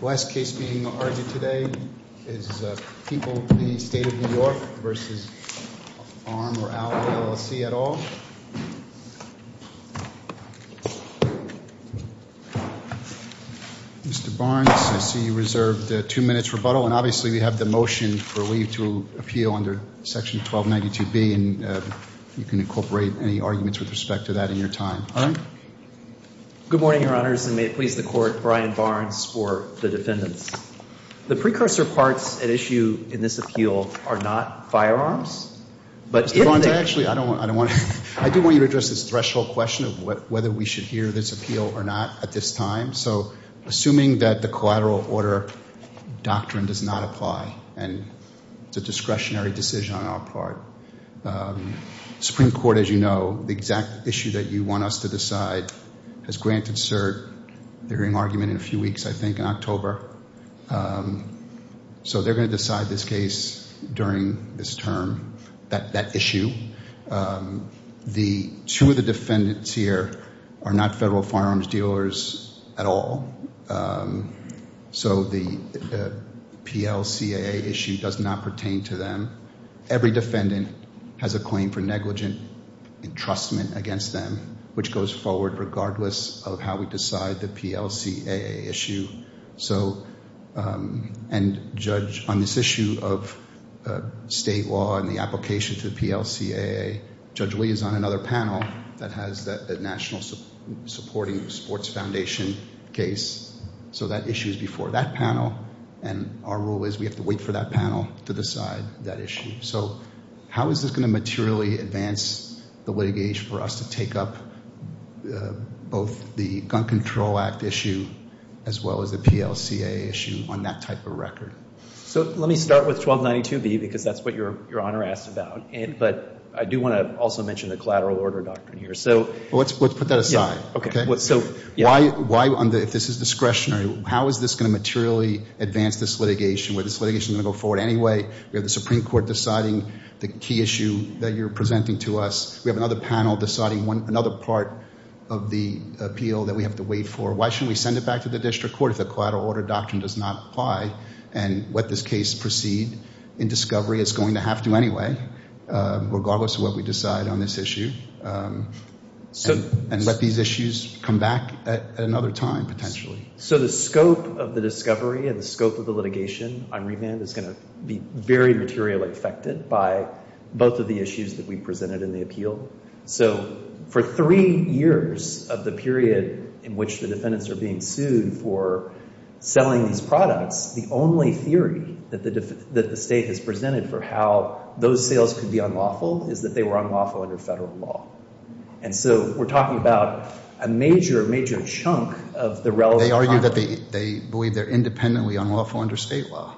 Last case being argued today is People of the State of New York v. Arm or Ally, LLC et al. Mr. Barnes, I see you reserved two minutes rebuttal, and obviously we have the motion for leave to appeal under Section 1292B, and you can incorporate any arguments with respect to that in your time. All right. Good morning, Your Honors, and may it please the Court, Brian Barnes for the defendants. The precursor parts at issue in this appeal are not firearms. Mr. Barnes, actually, I don't want to – I do want you to address this threshold question of whether we should hear this appeal or not at this time. So assuming that the collateral order doctrine does not apply and it's a discretionary decision on our part, Supreme Court, as you know, the exact issue that you want us to decide, has granted cert during argument in a few weeks, I think, in October. So they're going to decide this case during this term, that issue. The two of the defendants here are not federal firearms dealers at all. So the PLCAA issue does not pertain to them. Every defendant has a claim for negligent entrustment against them, which goes forward regardless of how we decide the PLCAA issue. So – and, Judge, on this issue of state law and the application to the PLCAA, Judge Lee is on another panel that has the National Supporting Sports Foundation case. So that issue is before that panel. And our rule is we have to wait for that panel to decide that issue. So how is this going to materially advance the litigation for us to take up both the Gun Control Act issue as well as the PLCAA issue on that type of record? So let me start with 1292B because that's what Your Honor asked about. But I do want to also mention the collateral order doctrine here. So – Well, let's put that aside. Okay. Why – if this is discretionary, how is this going to materially advance this litigation? Is this litigation going to go forward anyway? We have the Supreme Court deciding the key issue that you're presenting to us. We have another panel deciding another part of the appeal that we have to wait for. Why shouldn't we send it back to the district court if the collateral order doctrine does not apply and let this case proceed in discovery? It's going to have to anyway regardless of what we decide on this issue. And let these issues come back at another time potentially. So the scope of the discovery and the scope of the litigation on remand is going to be very materially affected by both of the issues that we presented in the appeal. So for three years of the period in which the defendants are being sued for selling these products, the only theory that the state has presented for how those sales could be unlawful is that they were unlawful under federal law. And so we're talking about a major, major chunk of the relevant time. They argue that they believe they're independently unlawful under state law.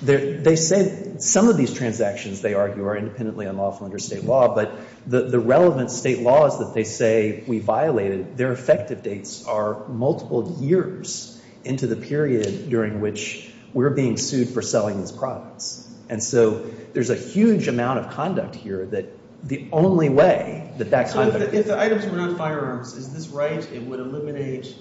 They say some of these transactions, they argue, are independently unlawful under state law. But the relevant state laws that they say we violated, their effective dates are multiple years into the period during which we're being sued for selling these products. And so there's a huge amount of conduct here that the only way that that kind of – If the items were not firearms, is this right? It would eliminate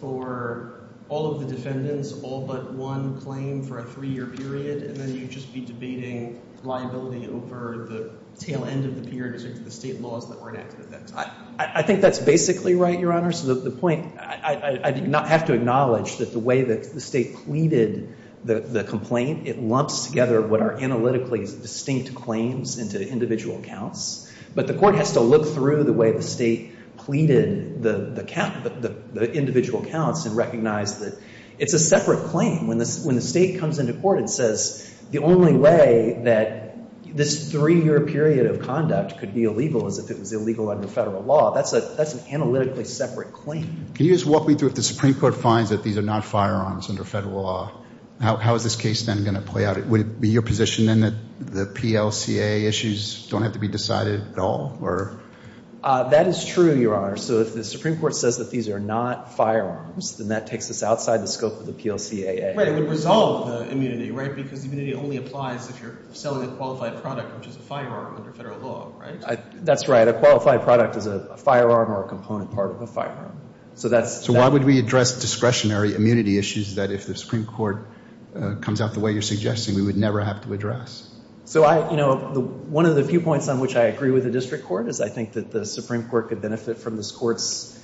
for all of the defendants all but one claim for a three-year period, and then you'd just be debating liability over the tail end of the period as it relates to the state laws that were enacted at that time. I think that's basically right, Your Honor. So the point – I have to acknowledge that the way that the state pleaded the complaint, it lumps together what are analytically distinct claims into individual accounts. But the court has to look through the way the state pleaded the individual accounts and recognize that it's a separate claim. When the state comes into court and says the only way that this three-year period of conduct could be illegal is if it was illegal under federal law, that's an analytically separate claim. Can you just walk me through if the Supreme Court finds that these are not firearms under federal law, how is this case then going to play out? Would it be your position then that the PLCAA issues don't have to be decided at all? That is true, Your Honor. So if the Supreme Court says that these are not firearms, then that takes us outside the scope of the PLCAA. Right, it would resolve the immunity, right? Because immunity only applies if you're selling a qualified product, which is a firearm under federal law, right? That's right. A qualified product is a firearm or a component part of a firearm. So why would we address discretionary immunity issues that if the Supreme Court comes out the way you're suggesting we would never have to address? So, you know, one of the few points on which I agree with the district court is I think that the Supreme Court could benefit from this court's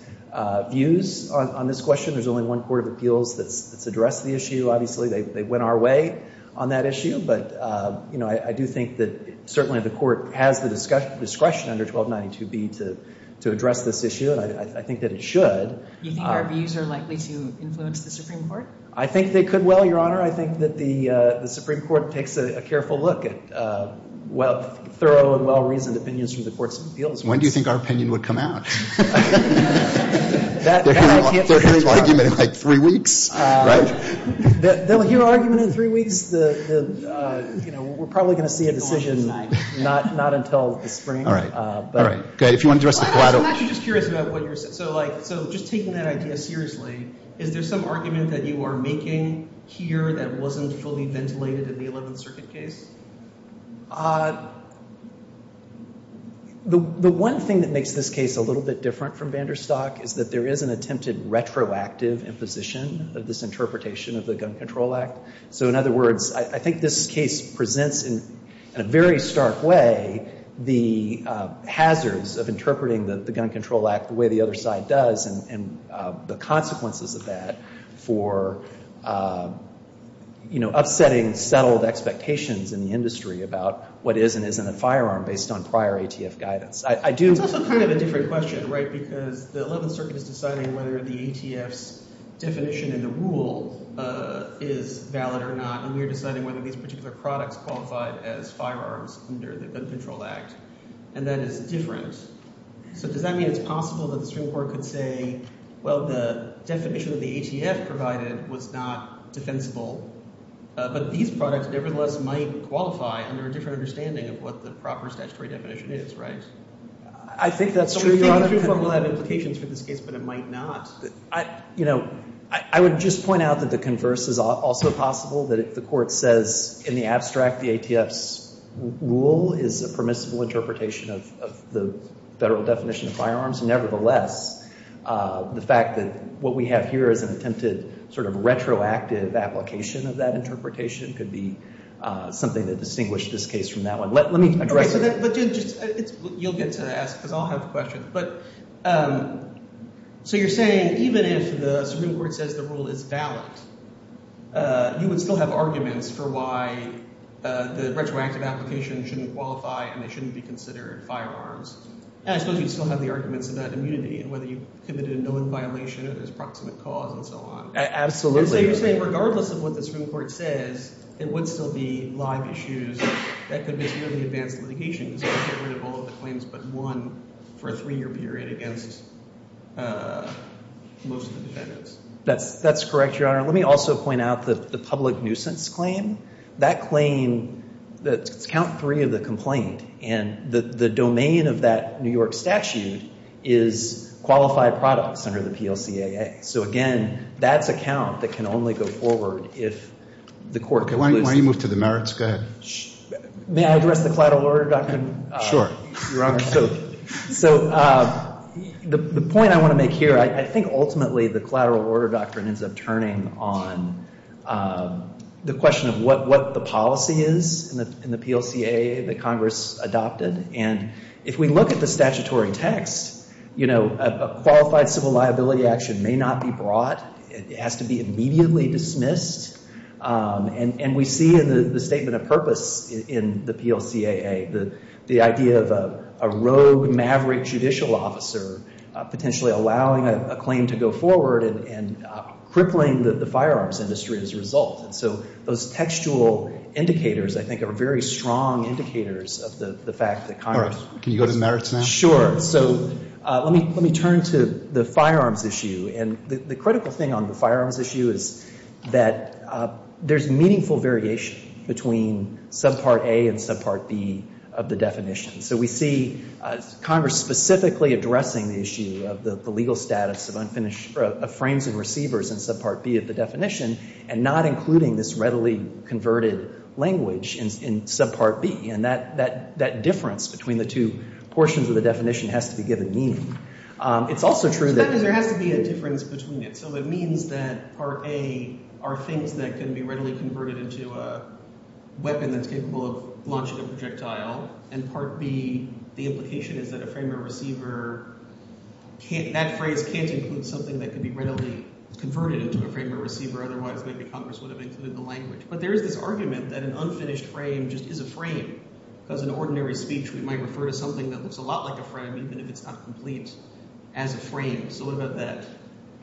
views on this question. There's only one court of appeals that's addressed the issue, obviously. They went our way on that issue. But, you know, I do think that certainly the court has the discretion under 1292B to address this issue. And I think that it should. You think our views are likely to influence the Supreme Court? I think they could well, Your Honor. I think that the Supreme Court takes a careful look at thorough and well-reasoned opinions from the court's appeals. When do you think our opinion would come out? They'll hear our argument in like three weeks, right? They'll hear our argument in three weeks. You know, we're probably going to see a decision not until the spring. All right. If you want to address the collateral. I'm actually just curious about what you're saying. So, like, just taking that idea seriously, is there some argument that you are making here that wasn't fully ventilated in the 11th Circuit case? The one thing that makes this case a little bit different from Vanderstock is that there is an attempted retroactive imposition of this interpretation of the Gun Control Act. So, in other words, I think this case presents in a very stark way the hazards of interpreting the Gun Control Act the way the other side does and the consequences of that for, you know, upsetting settled expectations in the industry about what is and isn't a firearm based on prior ATF guidance. It's also kind of a different question, right? Because the 11th Circuit is deciding whether the ATF's definition in the rule is valid or not. And we are deciding whether these particular products qualified as firearms under the Gun Control Act. And that is different. So does that mean it's possible that the Supreme Court could say, well, the definition that the ATF provided was not defensible. But these products, nevertheless, might qualify under a different understanding of what the proper statutory definition is, right? I think that's true, Your Honor. It could have implications for this case, but it might not. You know, I would just point out that the converse is also possible, that if the court says in the abstract the ATF's rule is a permissible interpretation of the federal definition of firearms, nevertheless, the fact that what we have here is an attempted sort of retroactive application of that interpretation could be something that distinguished this case from that one. Let me address that. But you'll get to ask because I'll have questions. But so you're saying even if the Supreme Court says the rule is valid, you would still have arguments for why the retroactive application shouldn't qualify and it shouldn't be considered firearms. I suppose you'd still have the arguments about immunity and whether you've committed a known violation or there's proximate cause and so on. Absolutely. So you're saying regardless of what the Supreme Court says, it would still be live issues that could mislead the advanced litigation because you can't get rid of all of the claims but one for a three-year period against most of the defendants. That's correct, Your Honor. Let me also point out the public nuisance claim. That claim, it's count three of the complaint and the domain of that New York statute is qualified products under the PLCAA. So again, that's a count that can only go forward if the court concludes. Why don't you move to the merits? May I address the collateral order doctrine? Sure. Your Honor, so the point I want to make here, I think ultimately the collateral order doctrine ends up turning on the question of what the policy is in the PLCAA that Congress adopted. And if we look at the statutory text, you know, a qualified civil liability action may not be brought. It has to be immediately dismissed. And we see in the statement of purpose in the PLCAA the idea of a rogue maverick judicial officer potentially allowing a claim to go forward and crippling the firearms industry as a result. And so those textual indicators, I think, are very strong indicators of the fact that Congress Can you go to merits now? So let me turn to the firearms issue. And the critical thing on the firearms issue is that there's meaningful variation between subpart A and subpart B of the definition. So we see Congress specifically addressing the issue of the legal status of frames and receivers in subpart B of the definition and not including this readily converted language in subpart B. And that difference between the two portions of the definition has to be given meaning. It's also true that There has to be a difference between it. So it means that part A are things that can be readily converted into a weapon that's capable of launching a projectile. And part B, the implication is that a frame or receiver can't – that phrase can't include something that can be readily converted into a frame or receiver. Otherwise, maybe Congress would have included the language. But there is this argument that an unfinished frame just is a frame. Because in ordinary speech, we might refer to something that looks a lot like a frame even if it's not complete as a frame. So what about that?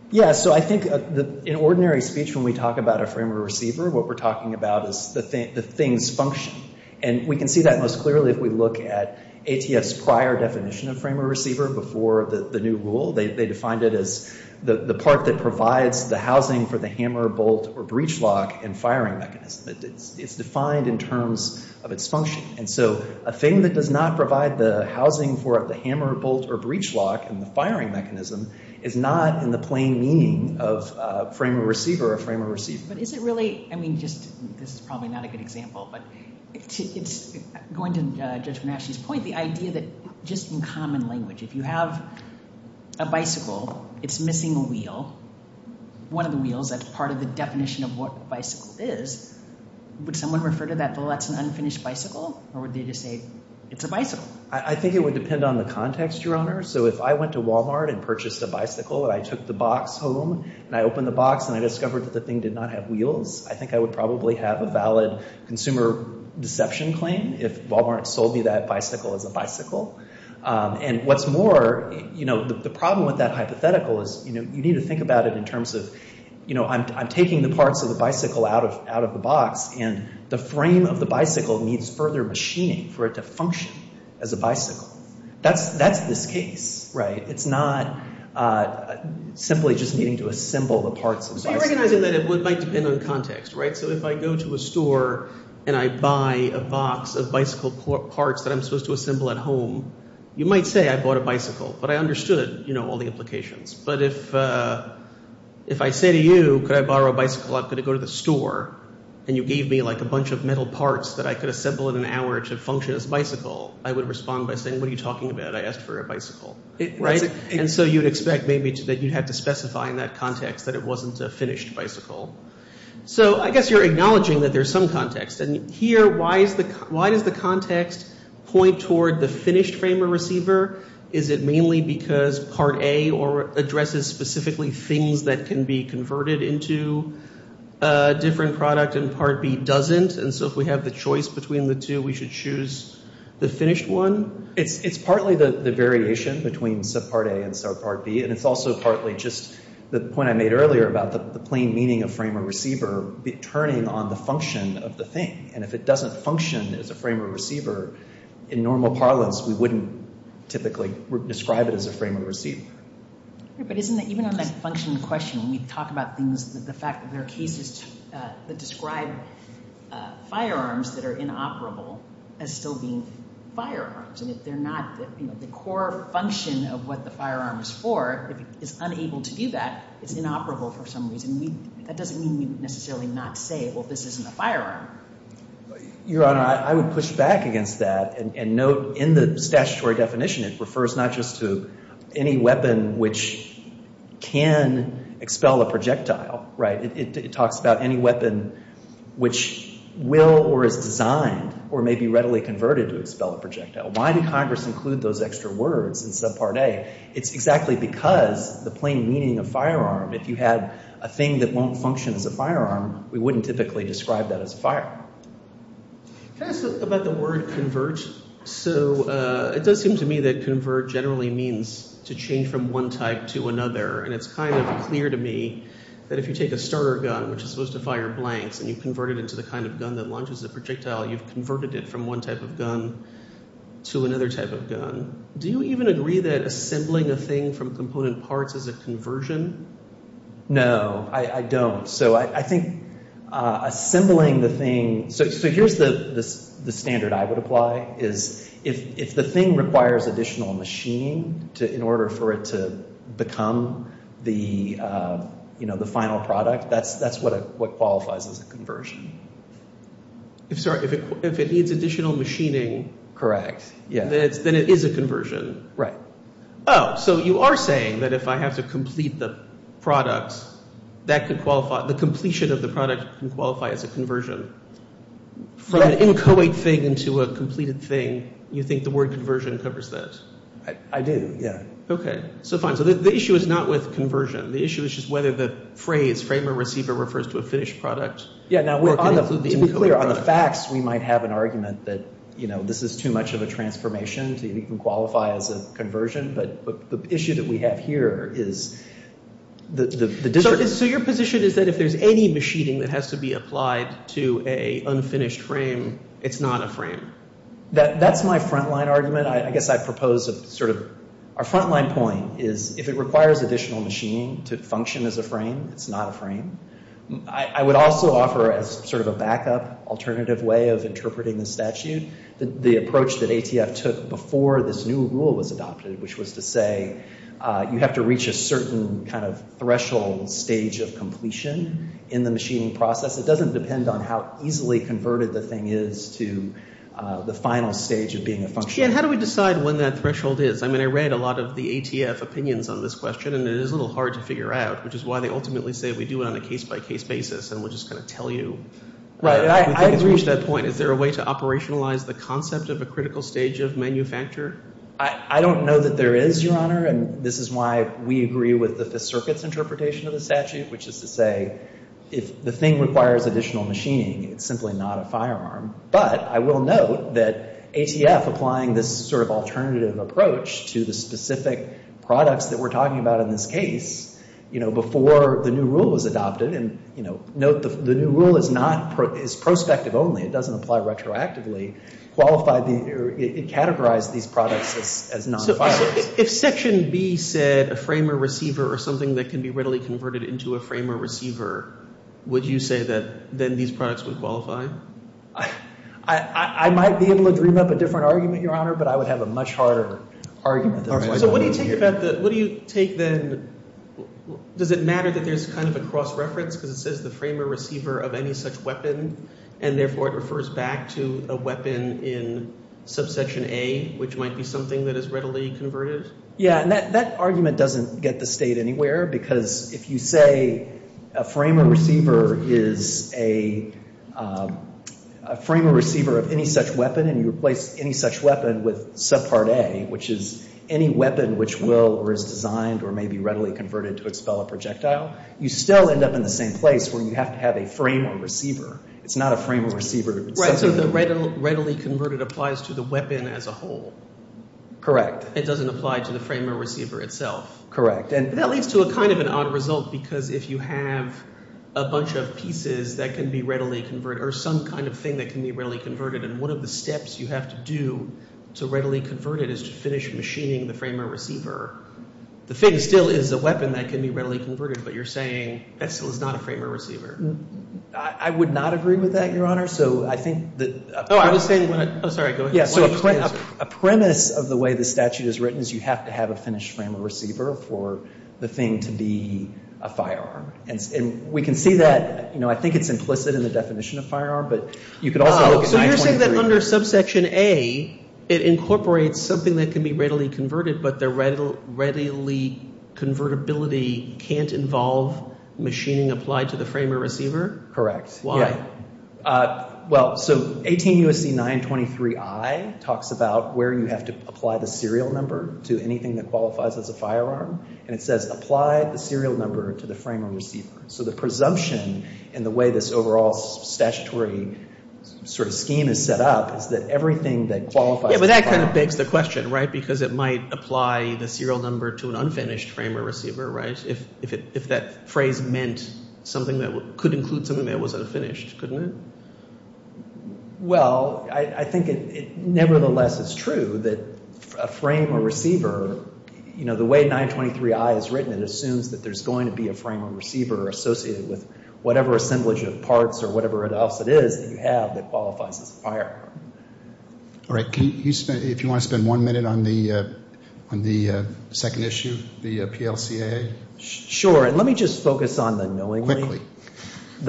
Yeah, so I think in ordinary speech when we talk about a frame or receiver, what we're talking about is the thing's function. And we can see that most clearly if we look at ATF's prior definition of frame or receiver before the new rule. They defined it as the part that provides the housing for the hammer, bolt, or breach lock in firing mechanism. It's defined in terms of its function. And so a thing that does not provide the housing for the hammer, bolt, or breach lock in the firing mechanism is not in the plain meaning of frame or receiver or frame or receiver. But is it really – I mean just – this is probably not a good example. But going to Judge Bernaschini's point, the idea that just in common language, if you have a bicycle, it's missing a wheel, one of the wheels. That's part of the definition of what a bicycle is. Would someone refer to that, well, that's an unfinished bicycle, or would they just say it's a bicycle? I think it would depend on the context, Your Honor. So if I went to Walmart and purchased a bicycle and I took the box home and I opened the box and I discovered that the thing did not have wheels, I think I would probably have a valid consumer deception claim if Walmart sold me that bicycle as a bicycle. And what's more, the problem with that hypothetical is you need to think about it in terms of I'm taking the parts of the bicycle out of the box and the frame of the bicycle needs further machining for it to function as a bicycle. That's this case. It's not simply just needing to assemble the parts of the bicycle. I'm recognizing that it might depend on context. So if I go to a store and I buy a box of bicycle parts that I'm supposed to assemble at home, you might say I bought a bicycle, but I understood all the implications. But if I say to you, could I borrow a bicycle? I'm going to go to the store and you gave me a bunch of metal parts that I could assemble in an hour to function as a bicycle, I would respond by saying, what are you talking about? I asked for a bicycle. And so you'd expect maybe that you'd have to specify in that context that it wasn't a finished bicycle. So I guess you're acknowledging that there's some context. And here, why does the context point toward the finished frame of receiver? Is it mainly because Part A addresses specifically things that can be converted into a different product and Part B doesn't? And so if we have the choice between the two, we should choose the finished one? It's partly the variation between subpart A and subpart B. And it's also partly just the point I made earlier about the plain meaning of frame of receiver turning on the function of the thing. And if it doesn't function as a frame of receiver in normal parlance, we wouldn't typically describe it as a frame of receiver. But even on that function question, when we talk about things, the fact that there are cases that describe firearms that are inoperable as still being firearms. And if they're not the core function of what the firearm is for, if it is unable to do that, it's inoperable for some reason. That doesn't mean we would necessarily not say, well, this isn't a firearm. Your Honor, I would push back against that and note in the statutory definition it refers not just to any weapon which can expel a projectile, right? It talks about any weapon which will or is designed or may be readily converted to expel a projectile. Why did Congress include those extra words in subpart A? It's exactly because the plain meaning of firearm, if you had a thing that won't function as a firearm, we wouldn't typically describe that as a firearm. Can I ask about the word convert? So it does seem to me that convert generally means to change from one type to another. And it's kind of clear to me that if you take a starter gun which is supposed to fire blanks and you convert it into the kind of gun that launches a projectile, you've converted it from one type of gun to another type of gun. Do you even agree that assembling a thing from component parts is a conversion? No, I don't. So I think assembling the thing – so here's the standard I would apply is if the thing requires additional machining in order for it to become the final product, that's what qualifies as a conversion. If it needs additional machining, then it is a conversion. Oh, so you are saying that if I have to complete the product, that could qualify – the completion of the product can qualify as a conversion. From an inchoate thing into a completed thing, you think the word conversion covers that? I do, yeah. Okay, so fine. So the issue is not with conversion. The issue is just whether the phrase frame or receiver refers to a finished product. Yeah, now to be clear, on the facts we might have an argument that this is too much of a transformation to even qualify as a conversion, but the issue that we have here is the – So your position is that if there's any machining that has to be applied to an unfinished frame, it's not a frame? That's my frontline argument. I guess I propose a sort of – our frontline point is if it requires additional machining to function as a frame, it's not a frame. I would also offer as sort of a backup, alternative way of interpreting the statute, the approach that ATF took before this new rule was adopted, which was to say you have to reach a certain kind of threshold stage of completion in the machining process. It doesn't depend on how easily converted the thing is to the final stage of being a function. Jan, how do we decide when that threshold is? I mean, I read a lot of the ATF opinions on this question, and it is a little hard to figure out, which is why they ultimately say we do it on a case-by-case basis, and we'll just kind of tell you. Right. I agree. Is there a way to operationalize the concept of a critical stage of manufacture? I don't know that there is, Your Honor, and this is why we agree with the circuit's interpretation of the statute, which is to say if the thing requires additional machining, it's simply not a firearm. But I will note that ATF applying this sort of alternative approach to the specific products that we're talking about in this case, you know, before the new rule was adopted, and, you know, note the new rule is prospective only. It doesn't apply retroactively. It categorized these products as non-firearms. If Section B said a frame or receiver or something that can be readily converted into a frame or receiver, would you say that then these products would qualify? I might be able to dream up a different argument, Your Honor, but I would have a much harder argument. So what do you take about the – what do you take then – does it matter that there's kind of a cross-reference because it says the frame or receiver of any such weapon, and therefore it refers back to a weapon in Subsection A, which might be something that is readily converted? Yeah, and that argument doesn't get the State anywhere because if you say a frame or receiver is a frame or receiver of any such weapon and you replace any such weapon with Subpart A, which is any weapon which will or is designed or may be readily converted to expel a projectile, you still end up in the same place where you have to have a frame or receiver. It's not a frame or receiver. Right, so the readily converted applies to the weapon as a whole. Correct. It doesn't apply to the frame or receiver itself. And that leads to a kind of an odd result because if you have a bunch of pieces that can be readily converted or some kind of thing that can be readily converted and one of the steps you have to do to readily convert it is to finish machining the frame or receiver, the thing still is a weapon that can be readily converted, but you're saying that still is not a frame or receiver. I would not agree with that, Your Honor. So I think that – Oh, I was saying – oh, sorry. Go ahead. Yeah, so a premise of the way the statute is written is you have to have a finished frame or receiver for the thing to be a firearm. And we can see that, you know, I think it's implicit in the definition of firearm, but you could also look at 923. So you're saying that under Subsection A, it incorporates something that can be readily converted, but the readily convertibility can't involve machining applied to the frame or receiver? Correct, yeah. Well, so 18 U.S.C. 923I talks about where you have to apply the serial number to anything that qualifies as a firearm, and it says apply the serial number to the frame or receiver. So the presumption in the way this overall statutory sort of scheme is set up is that everything that qualifies as a firearm – Well, I think nevertheless it's true that a frame or receiver, you know, the way 923I is written, it assumes that there's going to be a frame or receiver associated with whatever assemblage of parts or whatever else it is that you have that qualifies as a firearm. All right. If you want to spend one minute on the second issue, the PLCAA? Sure, and let me just focus on the knowingly – So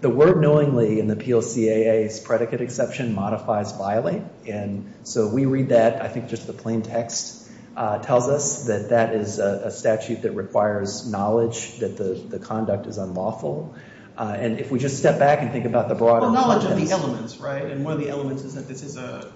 the word knowingly in the PLCAA's predicate exception modifies violate, and so we read that. I think just the plain text tells us that that is a statute that requires knowledge that the conduct is unlawful. And if we just step back and think about the broader context – Well, knowledge of the elements, right? And one of the elements is that this is a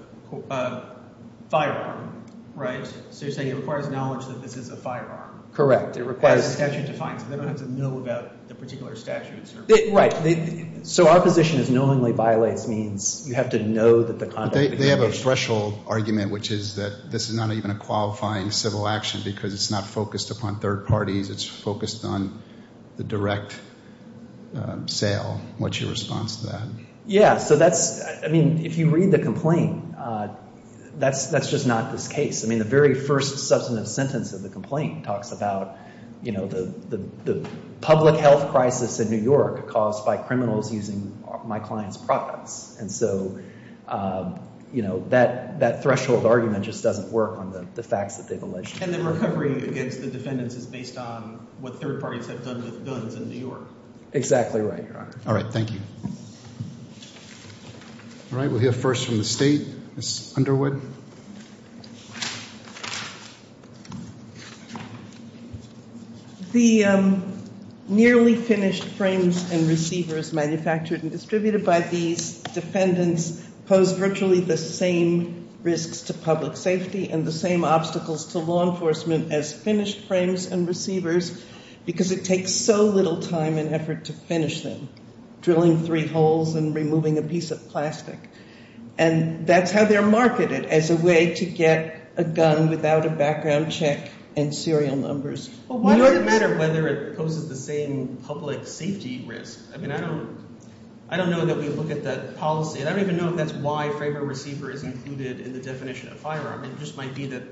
firearm, right? So you're saying it requires knowledge that this is a firearm. Correct. As the statute defines it, they don't have to know about the particular statutes or – Right. So our position is knowingly violates means you have to know that the conduct – They have a threshold argument, which is that this is not even a qualifying civil action because it's not focused upon third parties. It's focused on the direct sale. What's your response to that? Yeah, so that's – I mean, if you read the complaint, that's just not this case. I mean, the very first substantive sentence of the complaint talks about the public health crisis in New York caused by criminals using my client's products. And so that threshold argument just doesn't work on the facts that they've alleged. And the recovery against the defendants is based on what third parties have done with guns in New York. Exactly right, Your Honor. All right, thank you. All right, we'll hear first from the state, Ms. Underwood. The nearly finished frames and receivers manufactured and distributed by these defendants pose virtually the same risks to public safety and the same obstacles to law enforcement as finished frames and receivers because it takes so little time and effort to finish them. Drilling three holes and removing a piece of plastic. And that's how they're marketed, as a way to get a gun without a background check and serial numbers. It doesn't matter whether it poses the same public safety risk. I mean, I don't know that we look at that policy, and I don't even know if that's why frame or receiver is included in the definition of firearm. It just might be that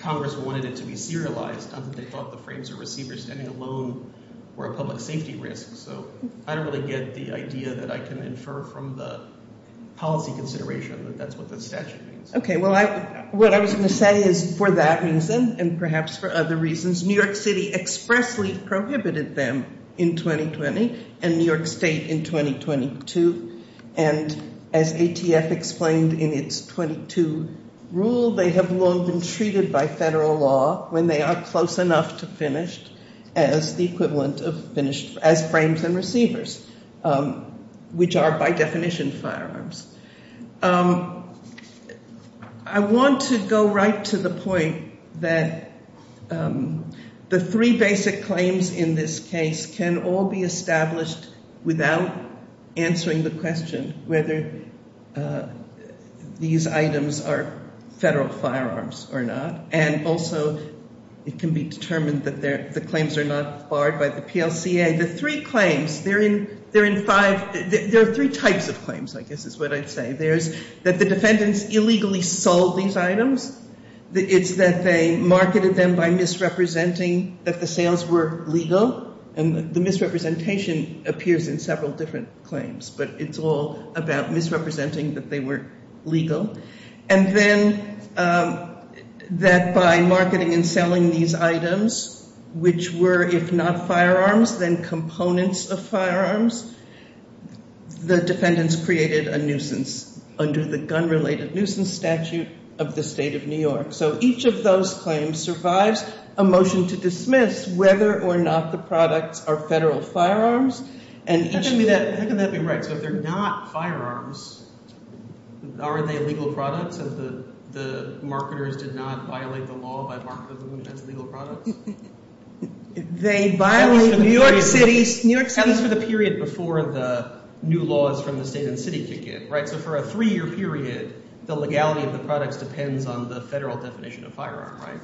Congress wanted it to be serialized. They thought the frames or receivers standing alone were a public safety risk. So I don't really get the idea that I can infer from the policy consideration that that's what the statute means. Okay, well, what I was going to say is for that reason and perhaps for other reasons, New York City expressly prohibited them in 2020 and New York State in 2022. And as ATF explained in its 22 rule, they have long been treated by federal law when they are close enough to finished as the equivalent of finished as frames and receivers, which are by definition firearms. I want to go right to the point that the three basic claims in this case can all be established without answering the question whether these items are federal firearms or not. And also, it can be determined that the claims are not barred by the PLCA. The three claims, there are three types of claims, I guess is what I'd say. There's that the defendants illegally sold these items. It's that they marketed them by misrepresenting that the sales were legal. And the misrepresentation appears in several different claims, but it's all about misrepresenting that they were legal. And then that by marketing and selling these items, which were, if not firearms, then components of firearms, the defendants created a nuisance under the gun related nuisance statute of the state of New York. So each of those claims survives a motion to dismiss whether or not the products are federal firearms. How can that be right? So if they're not firearms, are they legal products if the marketers did not violate the law by marketing them as legal products? They violate New York City's… That was for the period before the new laws from the state and city kick in, right? So for a three-year period, the legality of the products depends on the federal definition of firearm, right?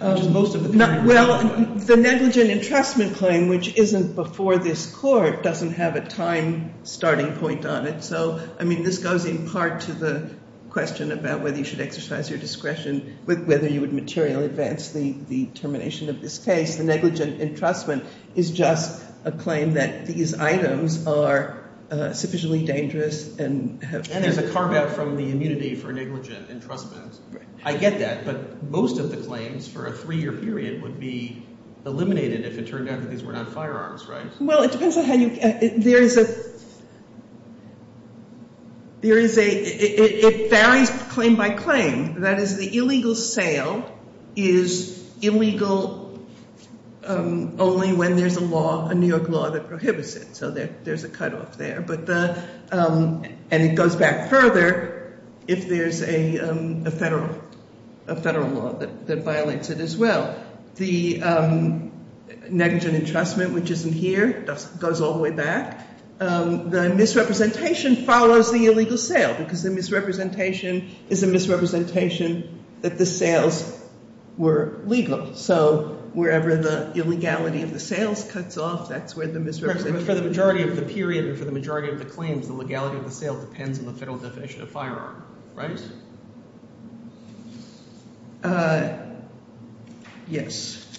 Well, the negligent entrustment claim, which isn't before this court, doesn't have a time starting point on it. So, I mean, this goes in part to the question about whether you should exercise your discretion, whether you would materially advance the termination of this case. The negligent entrustment is just a claim that these items are sufficiently dangerous and have… And there's a carve-out from the immunity for negligent entrustment. I get that. But most of the claims for a three-year period would be eliminated if it turned out that these were not firearms, right? Well, it depends on how you – there is a – there is a – it varies claim by claim. That is, the illegal sale is illegal only when there's a law, a New York law that prohibits it. So there's a cutoff there. But the – and it goes back further if there's a federal law that violates it as well. The negligent entrustment, which isn't here, goes all the way back. The misrepresentation follows the illegal sale because the misrepresentation is a misrepresentation that the sales were legal. So wherever the illegality of the sales cuts off, that's where the misrepresentation… The legality of the claims, the legality of the sale depends on the federal definition of firearm, right? Yes.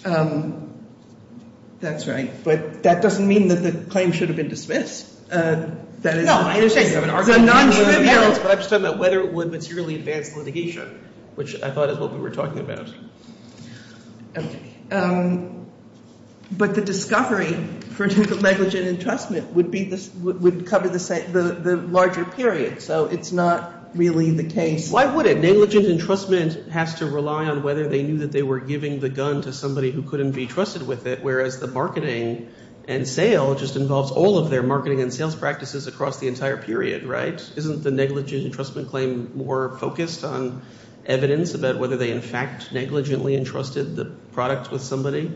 That's right. But that doesn't mean that the claim should have been dismissed. That is – No, I understand you have an argument. But I'm just talking about whether it would materially advance litigation, which I thought is what we were talking about. Okay. But the discovery for the negligent entrustment would be – would cover the larger period. So it's not really the case. Why would it? Negligent entrustment has to rely on whether they knew that they were giving the gun to somebody who couldn't be trusted with it, whereas the marketing and sale just involves all of their marketing and sales practices across the entire period, right? Isn't the negligent entrustment claim more focused on evidence about whether they in fact negligently entrusted the product with somebody?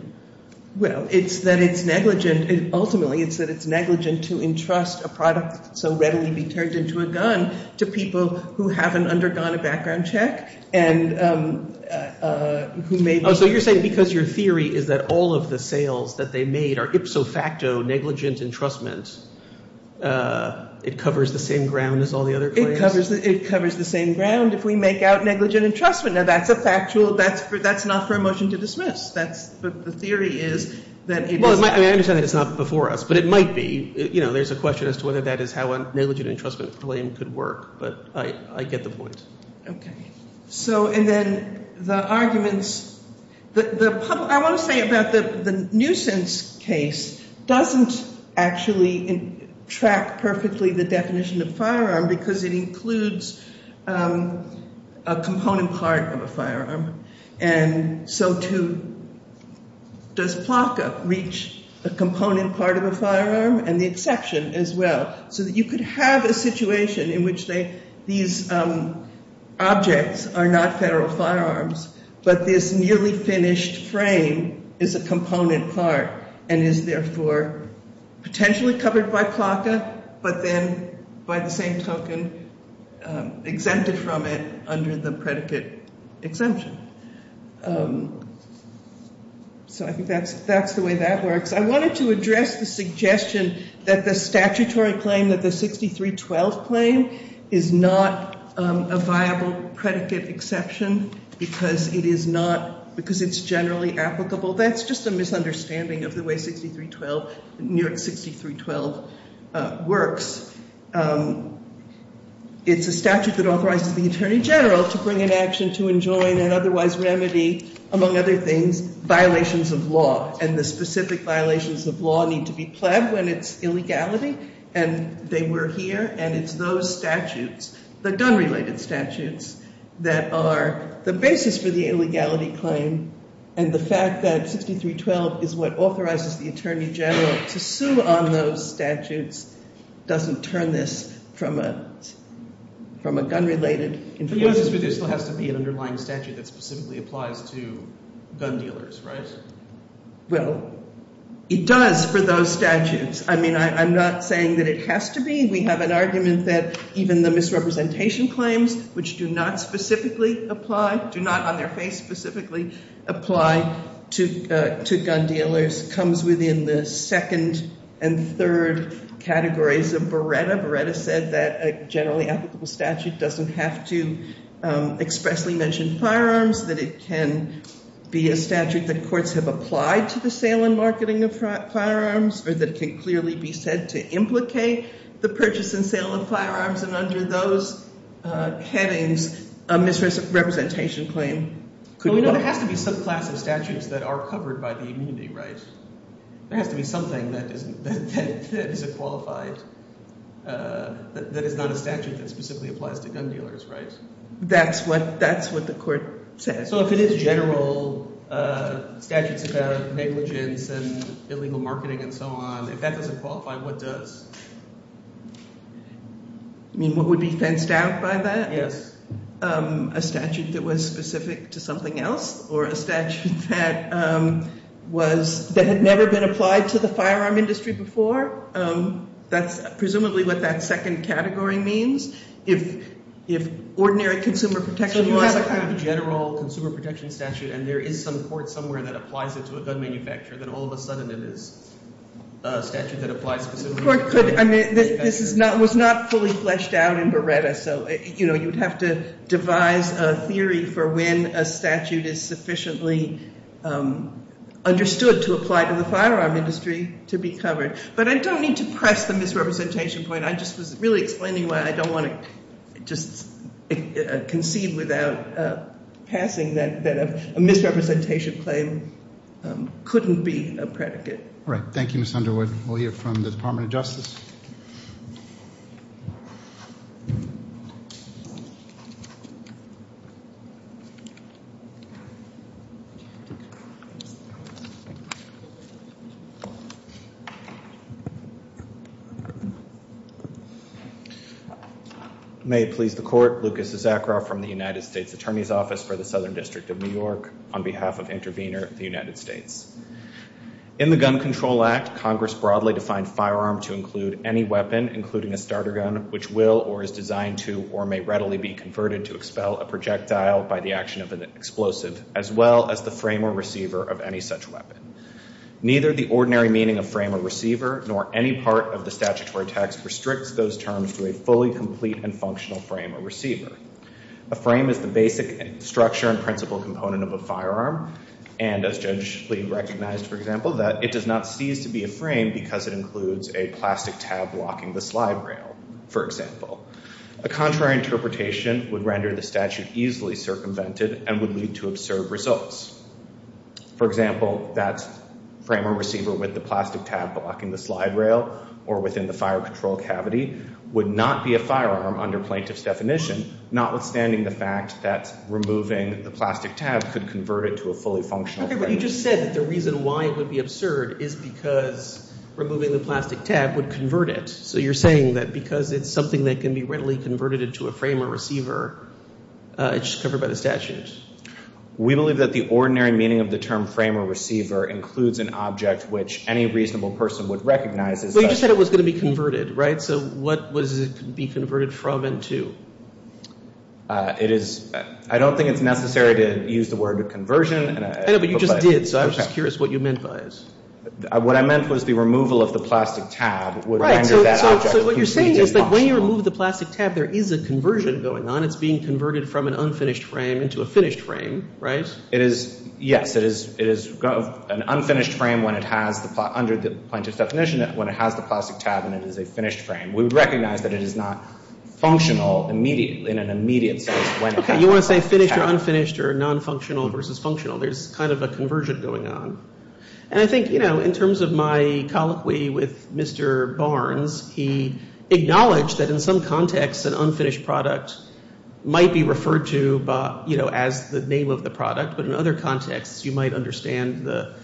Well, it's that it's negligent. Ultimately, it's that it's negligent to entrust a product so readily be turned into a gun to people who haven't undergone a background check and who may be – Oh, so you're saying because your theory is that all of the sales that they made are ipso facto negligent entrustment, it covers the same ground as all the other claims? It covers the same ground if we make out negligent entrustment. Now, that's a factual – that's not for a motion to dismiss. That's – the theory is that it is – Well, I understand that it's not before us, but it might be. You know, there's a question as to whether that is how a negligent entrustment claim could work, but I get the point. Okay. So – and then the arguments – the – I want to say about the nuisance case doesn't actually track perfectly the definition of firearm because it includes a component part of a firearm. And so to – does PLCA reach a component part of a firearm and the exception as well? So that you could have a situation in which they – these objects are not federal firearms, but this nearly finished frame is a component part and is therefore potentially covered by PLCA, but then by the same token exempted from it under the predicate exemption. So I think that's the way that works. I wanted to address the suggestion that the statutory claim that the 6312 claim is not a viable predicate exception because it is not – because it's generally applicable. That's just a misunderstanding of the way 6312 – New York 6312 works. It's a statute that authorizes the attorney general to bring an action to enjoin and otherwise remedy, among other things, violations of law and the specific violations of law need to be pled when it's illegality and they were here. And it's those statutes, the gun-related statutes, that are the basis for the illegality claim. And the fact that 6312 is what authorizes the attorney general to sue on those statutes doesn't turn this from a gun-related – It still has to be an underlying statute that specifically applies to gun dealers, right? Well, it does for those statutes. I mean I'm not saying that it has to be. We have an argument that even the misrepresentation claims, which do not specifically apply – do not on their face specifically apply to gun dealers, comes within the second and third categories of Beretta. Beretta said that a generally applicable statute doesn't have to expressly mention firearms, that it can be a statute that courts have applied to the sale and marketing of firearms, or that it can clearly be said to implicate the purchase and sale of firearms. And under those headings, a misrepresentation claim could – Well, we know there has to be some class of statutes that are covered by the immunity right. There has to be something that is a qualified – that is not a statute that specifically applies to gun dealers, right? That's what the court says. So if it is general statutes about negligence and illegal marketing and so on, if that doesn't qualify, what does? You mean what would be fenced out by that? Yes. A statute that was specific to something else or a statute that was – that had never been applied to the firearm industry before? That's presumably what that second category means. If ordinary consumer protection laws – So you have a kind of general consumer protection statute, and there is some court somewhere that applies it to a gun manufacturer, then all of a sudden it is a statute that applies specifically to gun manufacturers. The court could – I mean, this is not – was not fully fleshed out in Beretta. So, you know, you would have to devise a theory for when a statute is sufficiently understood to apply to the firearm industry to be covered. But I don't need to press the misrepresentation point. I just was really explaining why I don't want to just concede without passing that a misrepresentation claim couldn't be a predicate. All right. Thank you, Ms. Underwood. We'll hear from the Department of Justice. May it please the Court. Lucas Zakra from the United States Attorney's Office for the Southern District of New York, on behalf of Intervenor of the United States. In the Gun Control Act, Congress broadly defined firearm to include any weapon, including a starter gun, which will or is designed to or may readily be converted to expel a projectile by the action of an explosive, as well as the frame or receiver of any such weapon. Neither the ordinary meaning of frame or receiver, nor any part of the statutory text, restricts those terms to a fully complete and functional frame or receiver. A frame is the basic structure and principal component of a firearm, and as Judge Lee recognized, for example, that it does not cease to be a frame because it includes a plastic tab blocking the slide rail, for example. A contrary interpretation would render the statute easily circumvented and would lead to absurd results. For example, that frame or receiver with the plastic tab blocking the slide rail or within the fire control cavity would not be a firearm under plaintiff's definition, notwithstanding the fact that removing the plastic tab could convert it to a fully functional frame. Okay, but you just said that the reason why it would be absurd is because removing the plastic tab would convert it. So you're saying that because it's something that can be readily converted into a frame or receiver, it's just covered by the statute. We believe that the ordinary meaning of the term frame or receiver includes an object which any reasonable person would recognize as such. You just said it was going to be converted, right? So what would it be converted from and to? I don't think it's necessary to use the word conversion. I know, but you just did, so I was just curious what you meant by it. What I meant was the removal of the plastic tab would render that object complete and functional. So what you're saying is that when you remove the plastic tab, there is a conversion going on. It's being converted from an unfinished frame into a finished frame, right? Yes, it is an unfinished frame under the plaintiff's definition when it has the plastic tab and it is a finished frame. We would recognize that it is not functional in an immediate sense when it has the plastic tab. Okay, you want to say finished or unfinished or non-functional versus functional. There's kind of a conversion going on. And I think in terms of my colloquy with Mr. Barnes, he acknowledged that in some contexts an unfinished product might be referred to as the name of the product. But in other contexts, you might understand the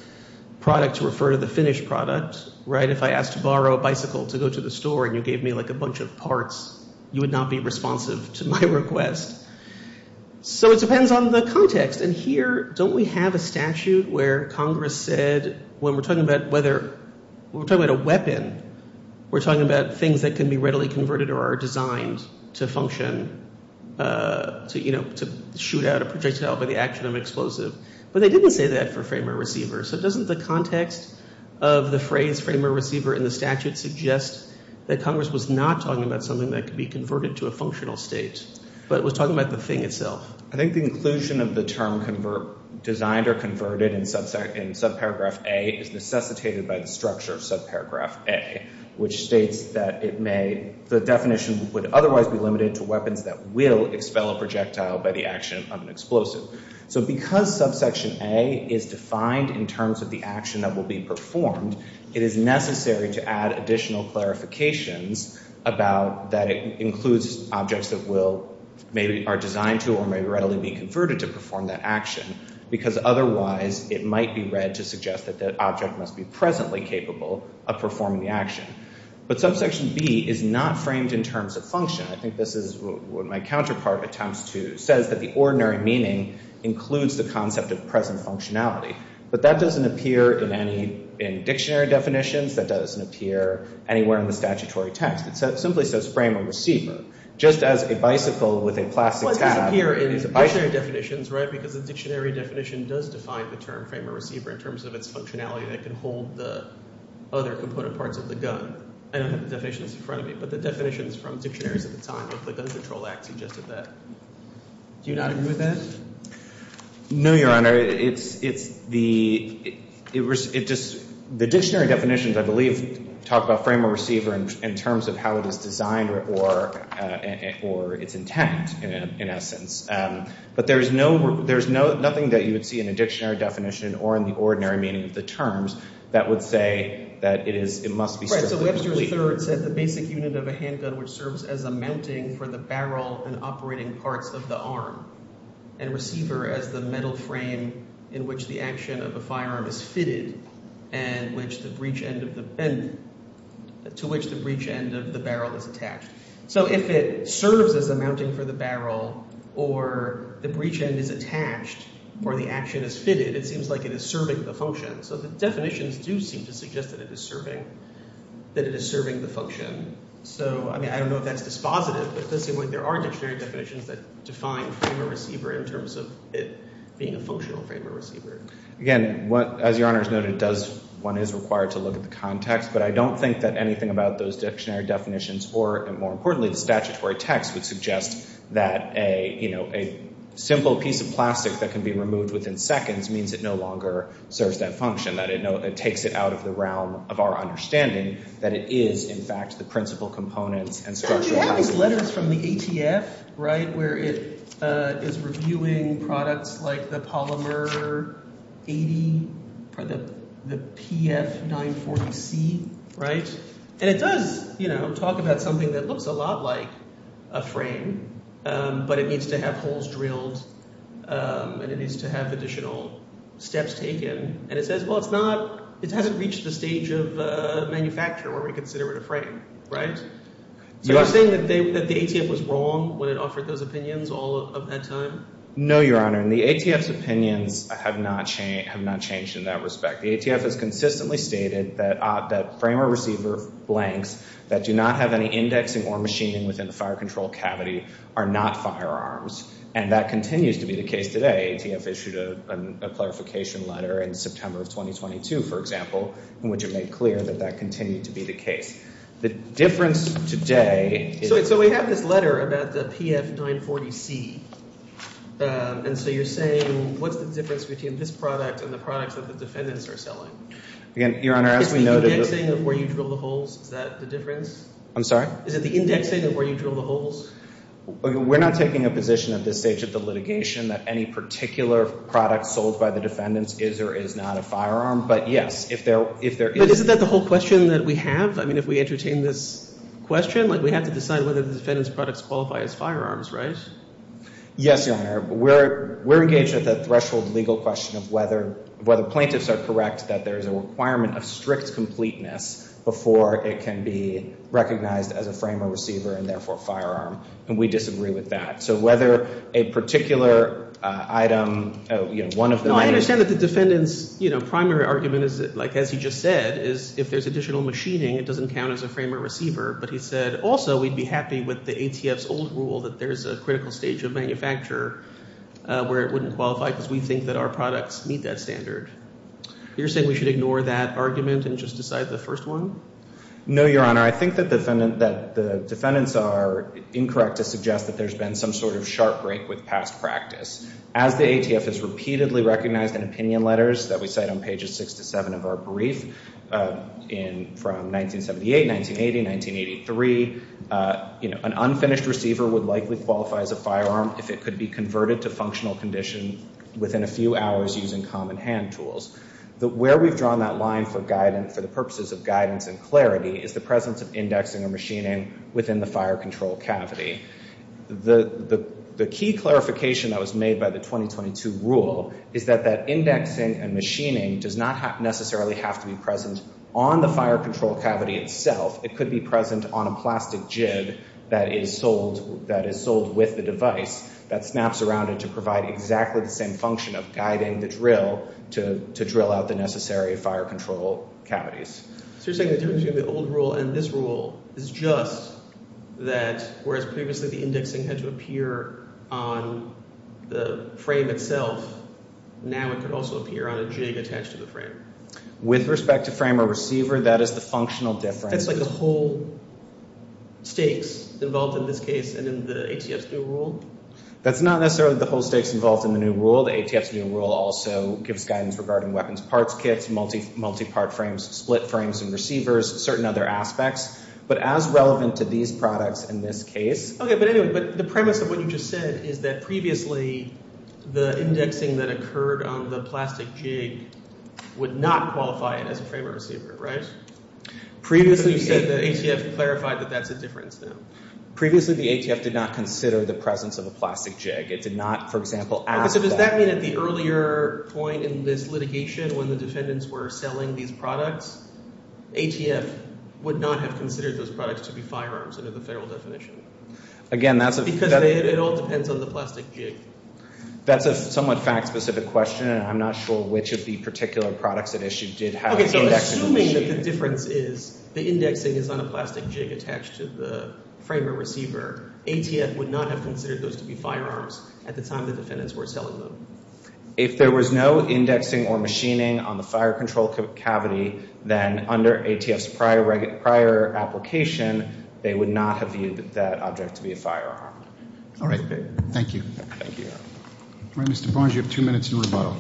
product to refer to the finished product, right? If I asked to borrow a bicycle to go to the store and you gave me like a bunch of parts, you would not be responsive to my request. So it depends on the context. And here, don't we have a statute where Congress said when we're talking about whether – when we're talking about a weapon, we're talking about things that can be readily converted or are designed to function, to shoot out a projectile by the action of an explosive. But they didn't say that for frame or receiver. So doesn't the context of the phrase frame or receiver in the statute suggest that Congress was not talking about something that could be converted to a functional state, but was talking about the thing itself? I think the inclusion of the term designed or converted in subparagraph A is necessitated by the structure of subparagraph A, which states that it may – the definition would otherwise be limited to weapons that will expel a projectile by the action of an explosive. So because subsection A is defined in terms of the action that will be performed, it is necessary to add additional clarifications about that it includes objects that will – maybe are designed to or may readily be converted to perform that action, because otherwise it might be read to suggest that the object must be presently capable of performing the action. But subsection B is not framed in terms of function. I think this is what my counterpart attempts to – says that the ordinary meaning includes the concept of present functionality. But that doesn't appear in any – in dictionary definitions. That doesn't appear anywhere in the statutory text. It simply says frame or receiver. Just as a bicycle with a plastic tab – Well, it doesn't appear in dictionary definitions, right, because the dictionary definition does define the term frame or receiver in terms of its functionality that can hold the other component parts of the gun. I don't have the definitions in front of me, but the definitions from dictionaries at the time of the Gun Control Act suggested that. Do you not agree with that? No, Your Honor. It's the – it just – the dictionary definitions, I believe, talk about frame or receiver in terms of how it is designed or its intent, in essence. But there is no – there is nothing that you would see in a dictionary definition or in the ordinary meaning of the terms that would say that it is – it must be – Right. So Webster III said the basic unit of a handgun which serves as a mounting for the barrel and operating parts of the arm. And receiver as the metal frame in which the action of a firearm is fitted and which the breech end of the – and to which the breech end of the barrel is attached. So if it serves as a mounting for the barrel or the breech end is attached or the action is fitted, it seems like it is serving the function. So the definitions do seem to suggest that it is serving – that it is serving the function. So, I mean, I don't know if that's dispositive, but it does seem like there are dictionary definitions that define frame or receiver in terms of it being a functional frame or receiver. Again, as Your Honor has noted, it does – one is required to look at the context, but I don't think that anything about those dictionary definitions or, more importantly, the statutory text would suggest that a simple piece of plastic that can be removed within seconds means it no longer serves that function, that it takes it out of the realm of our understanding, that it is, in fact, the principal component and structural – We have these letters from the ATF, right, where it is reviewing products like the Polymer 80 or the PF940C, right? And it does, you know, talk about something that looks a lot like a frame, but it needs to have holes drilled and it needs to have additional steps taken. And it says, well, it's not – it hasn't reached the stage of manufacture where we consider it a frame, right? So you're saying that the ATF was wrong when it offered those opinions all of that time? No, Your Honor, and the ATF's opinions have not changed in that respect. The ATF has consistently stated that frame or receiver blanks that do not have any indexing or machining within the fire control cavity are not firearms, and that continues to be the case today. The ATF issued a clarification letter in September of 2022, for example, in which it made clear that that continued to be the case. The difference today – So we have this letter about the PF940C, and so you're saying what's the difference between this product and the products that the defendants are selling? Again, Your Honor, as we noted – Is it the indexing of where you drill the holes? Is that the difference? I'm sorry? Is it the indexing of where you drill the holes? We're not taking a position at this stage of the litigation that any particular product sold by the defendants is or is not a firearm, but yes, if there is – But isn't that the whole question that we have? I mean, if we entertain this question, like we have to decide whether the defendants' products qualify as firearms, right? Yes, Your Honor. We're engaged at the threshold legal question of whether plaintiffs are correct that there is a requirement of strict completeness before it can be recognized as a frame or receiver and therefore a firearm, and we disagree with that. So whether a particular item – No, I understand that the defendant's primary argument, as he just said, is if there's additional machining, it doesn't count as a frame or receiver, but he said also we'd be happy with the ATF's old rule that there's a critical stage of manufacture where it wouldn't qualify because we think that our products meet that standard. You're saying we should ignore that argument and just decide the first one? No, Your Honor. I think that the defendants are incorrect to suggest that there's been some sort of sharp break with past practice. As the ATF has repeatedly recognized in opinion letters that we cite on pages 6 to 7 of our brief from 1978, 1980, 1983, an unfinished receiver would likely qualify as a firearm if it could be converted to functional condition within a few hours using common hand tools. Where we've drawn that line for the purposes of guidance and clarity is the presence of indexing and machining within the fire control cavity. The key clarification that was made by the 2022 rule is that that indexing and machining does not necessarily have to be present on the fire control cavity itself. It could be present on a plastic jig that is sold with the device that snaps around it to provide exactly the same function of guiding the drill to drill out the necessary fire control cavities. So you're saying the difference between the old rule and this rule is just that whereas previously the indexing had to appear on the frame itself, now it could also appear on a jig attached to the frame? With respect to frame or receiver, that is the functional difference. That's like the whole stakes involved in this case and in the ATF's new rule? That's not necessarily the whole stakes involved in the new rule. The ATF's new rule also gives guidance regarding weapons parts kits, multi-part frames, split frames and receivers, certain other aspects. But as relevant to these products in this case— Okay, but anyway, but the premise of what you just said is that previously the indexing that occurred on the plastic jig would not qualify it as a frame or receiver, right? Previously— But you said the ATF clarified that that's a difference now. Previously the ATF did not consider the presence of a plastic jig. It did not, for example, ask that. Okay, so does that mean at the earlier point in this litigation when the defendants were selling these products, ATF would not have considered those products to be firearms under the federal definition? Again, that's a— Because it all depends on the plastic jig. That's a somewhat fact-specific question, and I'm not sure which of the particular products it issued did have indexing on the jig. Assuming that the difference is the indexing is on a plastic jig attached to the frame or receiver, ATF would not have considered those to be firearms at the time the defendants were selling them. If there was no indexing or machining on the fire control cavity, then under ATF's prior application they would not have viewed that object to be a firearm. All right, thank you. Thank you, Your Honor. All right, Mr. Barnes, you have two minutes in rebuttal.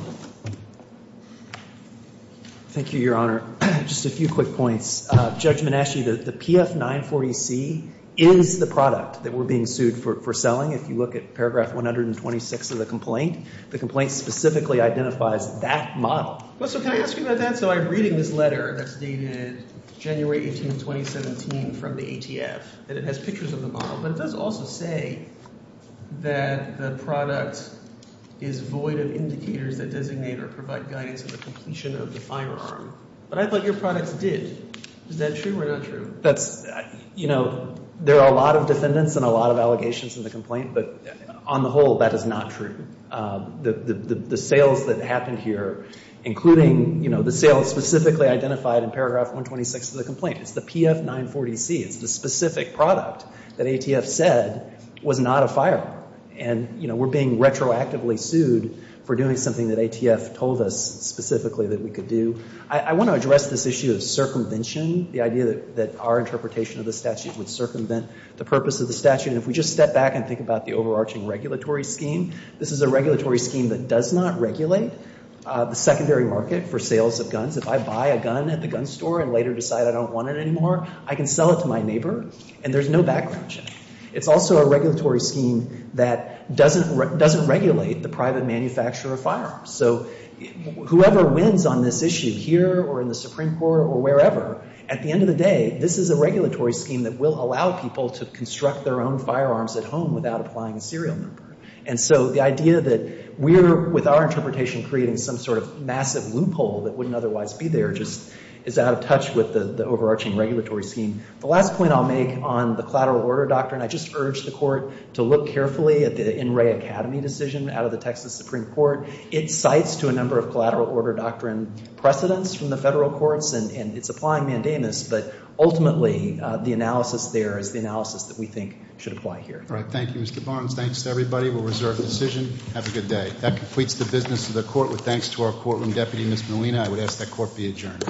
Thank you, Your Honor. Just a few quick points. Judge Menasche, the PF940C is the product that we're being sued for selling. If you look at paragraph 126 of the complaint, the complaint specifically identifies that model. Well, so can I ask you about that? So I'm reading this letter that's dated January 18, 2017 from the ATF, and it has pictures of the model, but it does also say that the product is void of indicators that designate or provide guidance on the completion of the firearm. But I thought your products did. Is that true or not true? That's, you know, there are a lot of defendants and a lot of allegations in the complaint, but on the whole that is not true. The sales that happened here, including, you know, the sales specifically identified in paragraph 126 of the complaint, it's the PF940C. It's the specific product that ATF said was not a firearm. And, you know, we're being retroactively sued for doing something that ATF told us specifically that we could do. I want to address this issue of circumvention, the idea that our interpretation of the statute would circumvent the purpose of the statute. And if we just step back and think about the overarching regulatory scheme, this is a regulatory scheme that does not regulate the secondary market for sales of guns. If I buy a gun at the gun store and later decide I don't want it anymore, I can sell it to my neighbor and there's no background check. It's also a regulatory scheme that doesn't regulate the private manufacturer of firearms. So whoever wins on this issue here or in the Supreme Court or wherever, at the end of the day this is a regulatory scheme that will allow people to construct their own firearms at home without applying a serial number. And so the idea that we're, with our interpretation, creating some sort of massive loophole that wouldn't otherwise be there just is out of touch with the overarching regulatory scheme. The last point I'll make on the collateral order doctrine, I just urge the Court to look carefully at the In Re Academy decision out of the Texas Supreme Court. It cites to a number of collateral order doctrine precedents from the federal courts and it's applying mandamus, but ultimately the analysis there is the analysis that we think should apply here. All right, thank you, Mr. Barnes. Thanks to everybody. We'll reserve decision. Have a good day. That completes the business of the Court. With thanks to our courtroom deputy, Ms. Molina. I would ask that court be adjourned. Court stands adjourned.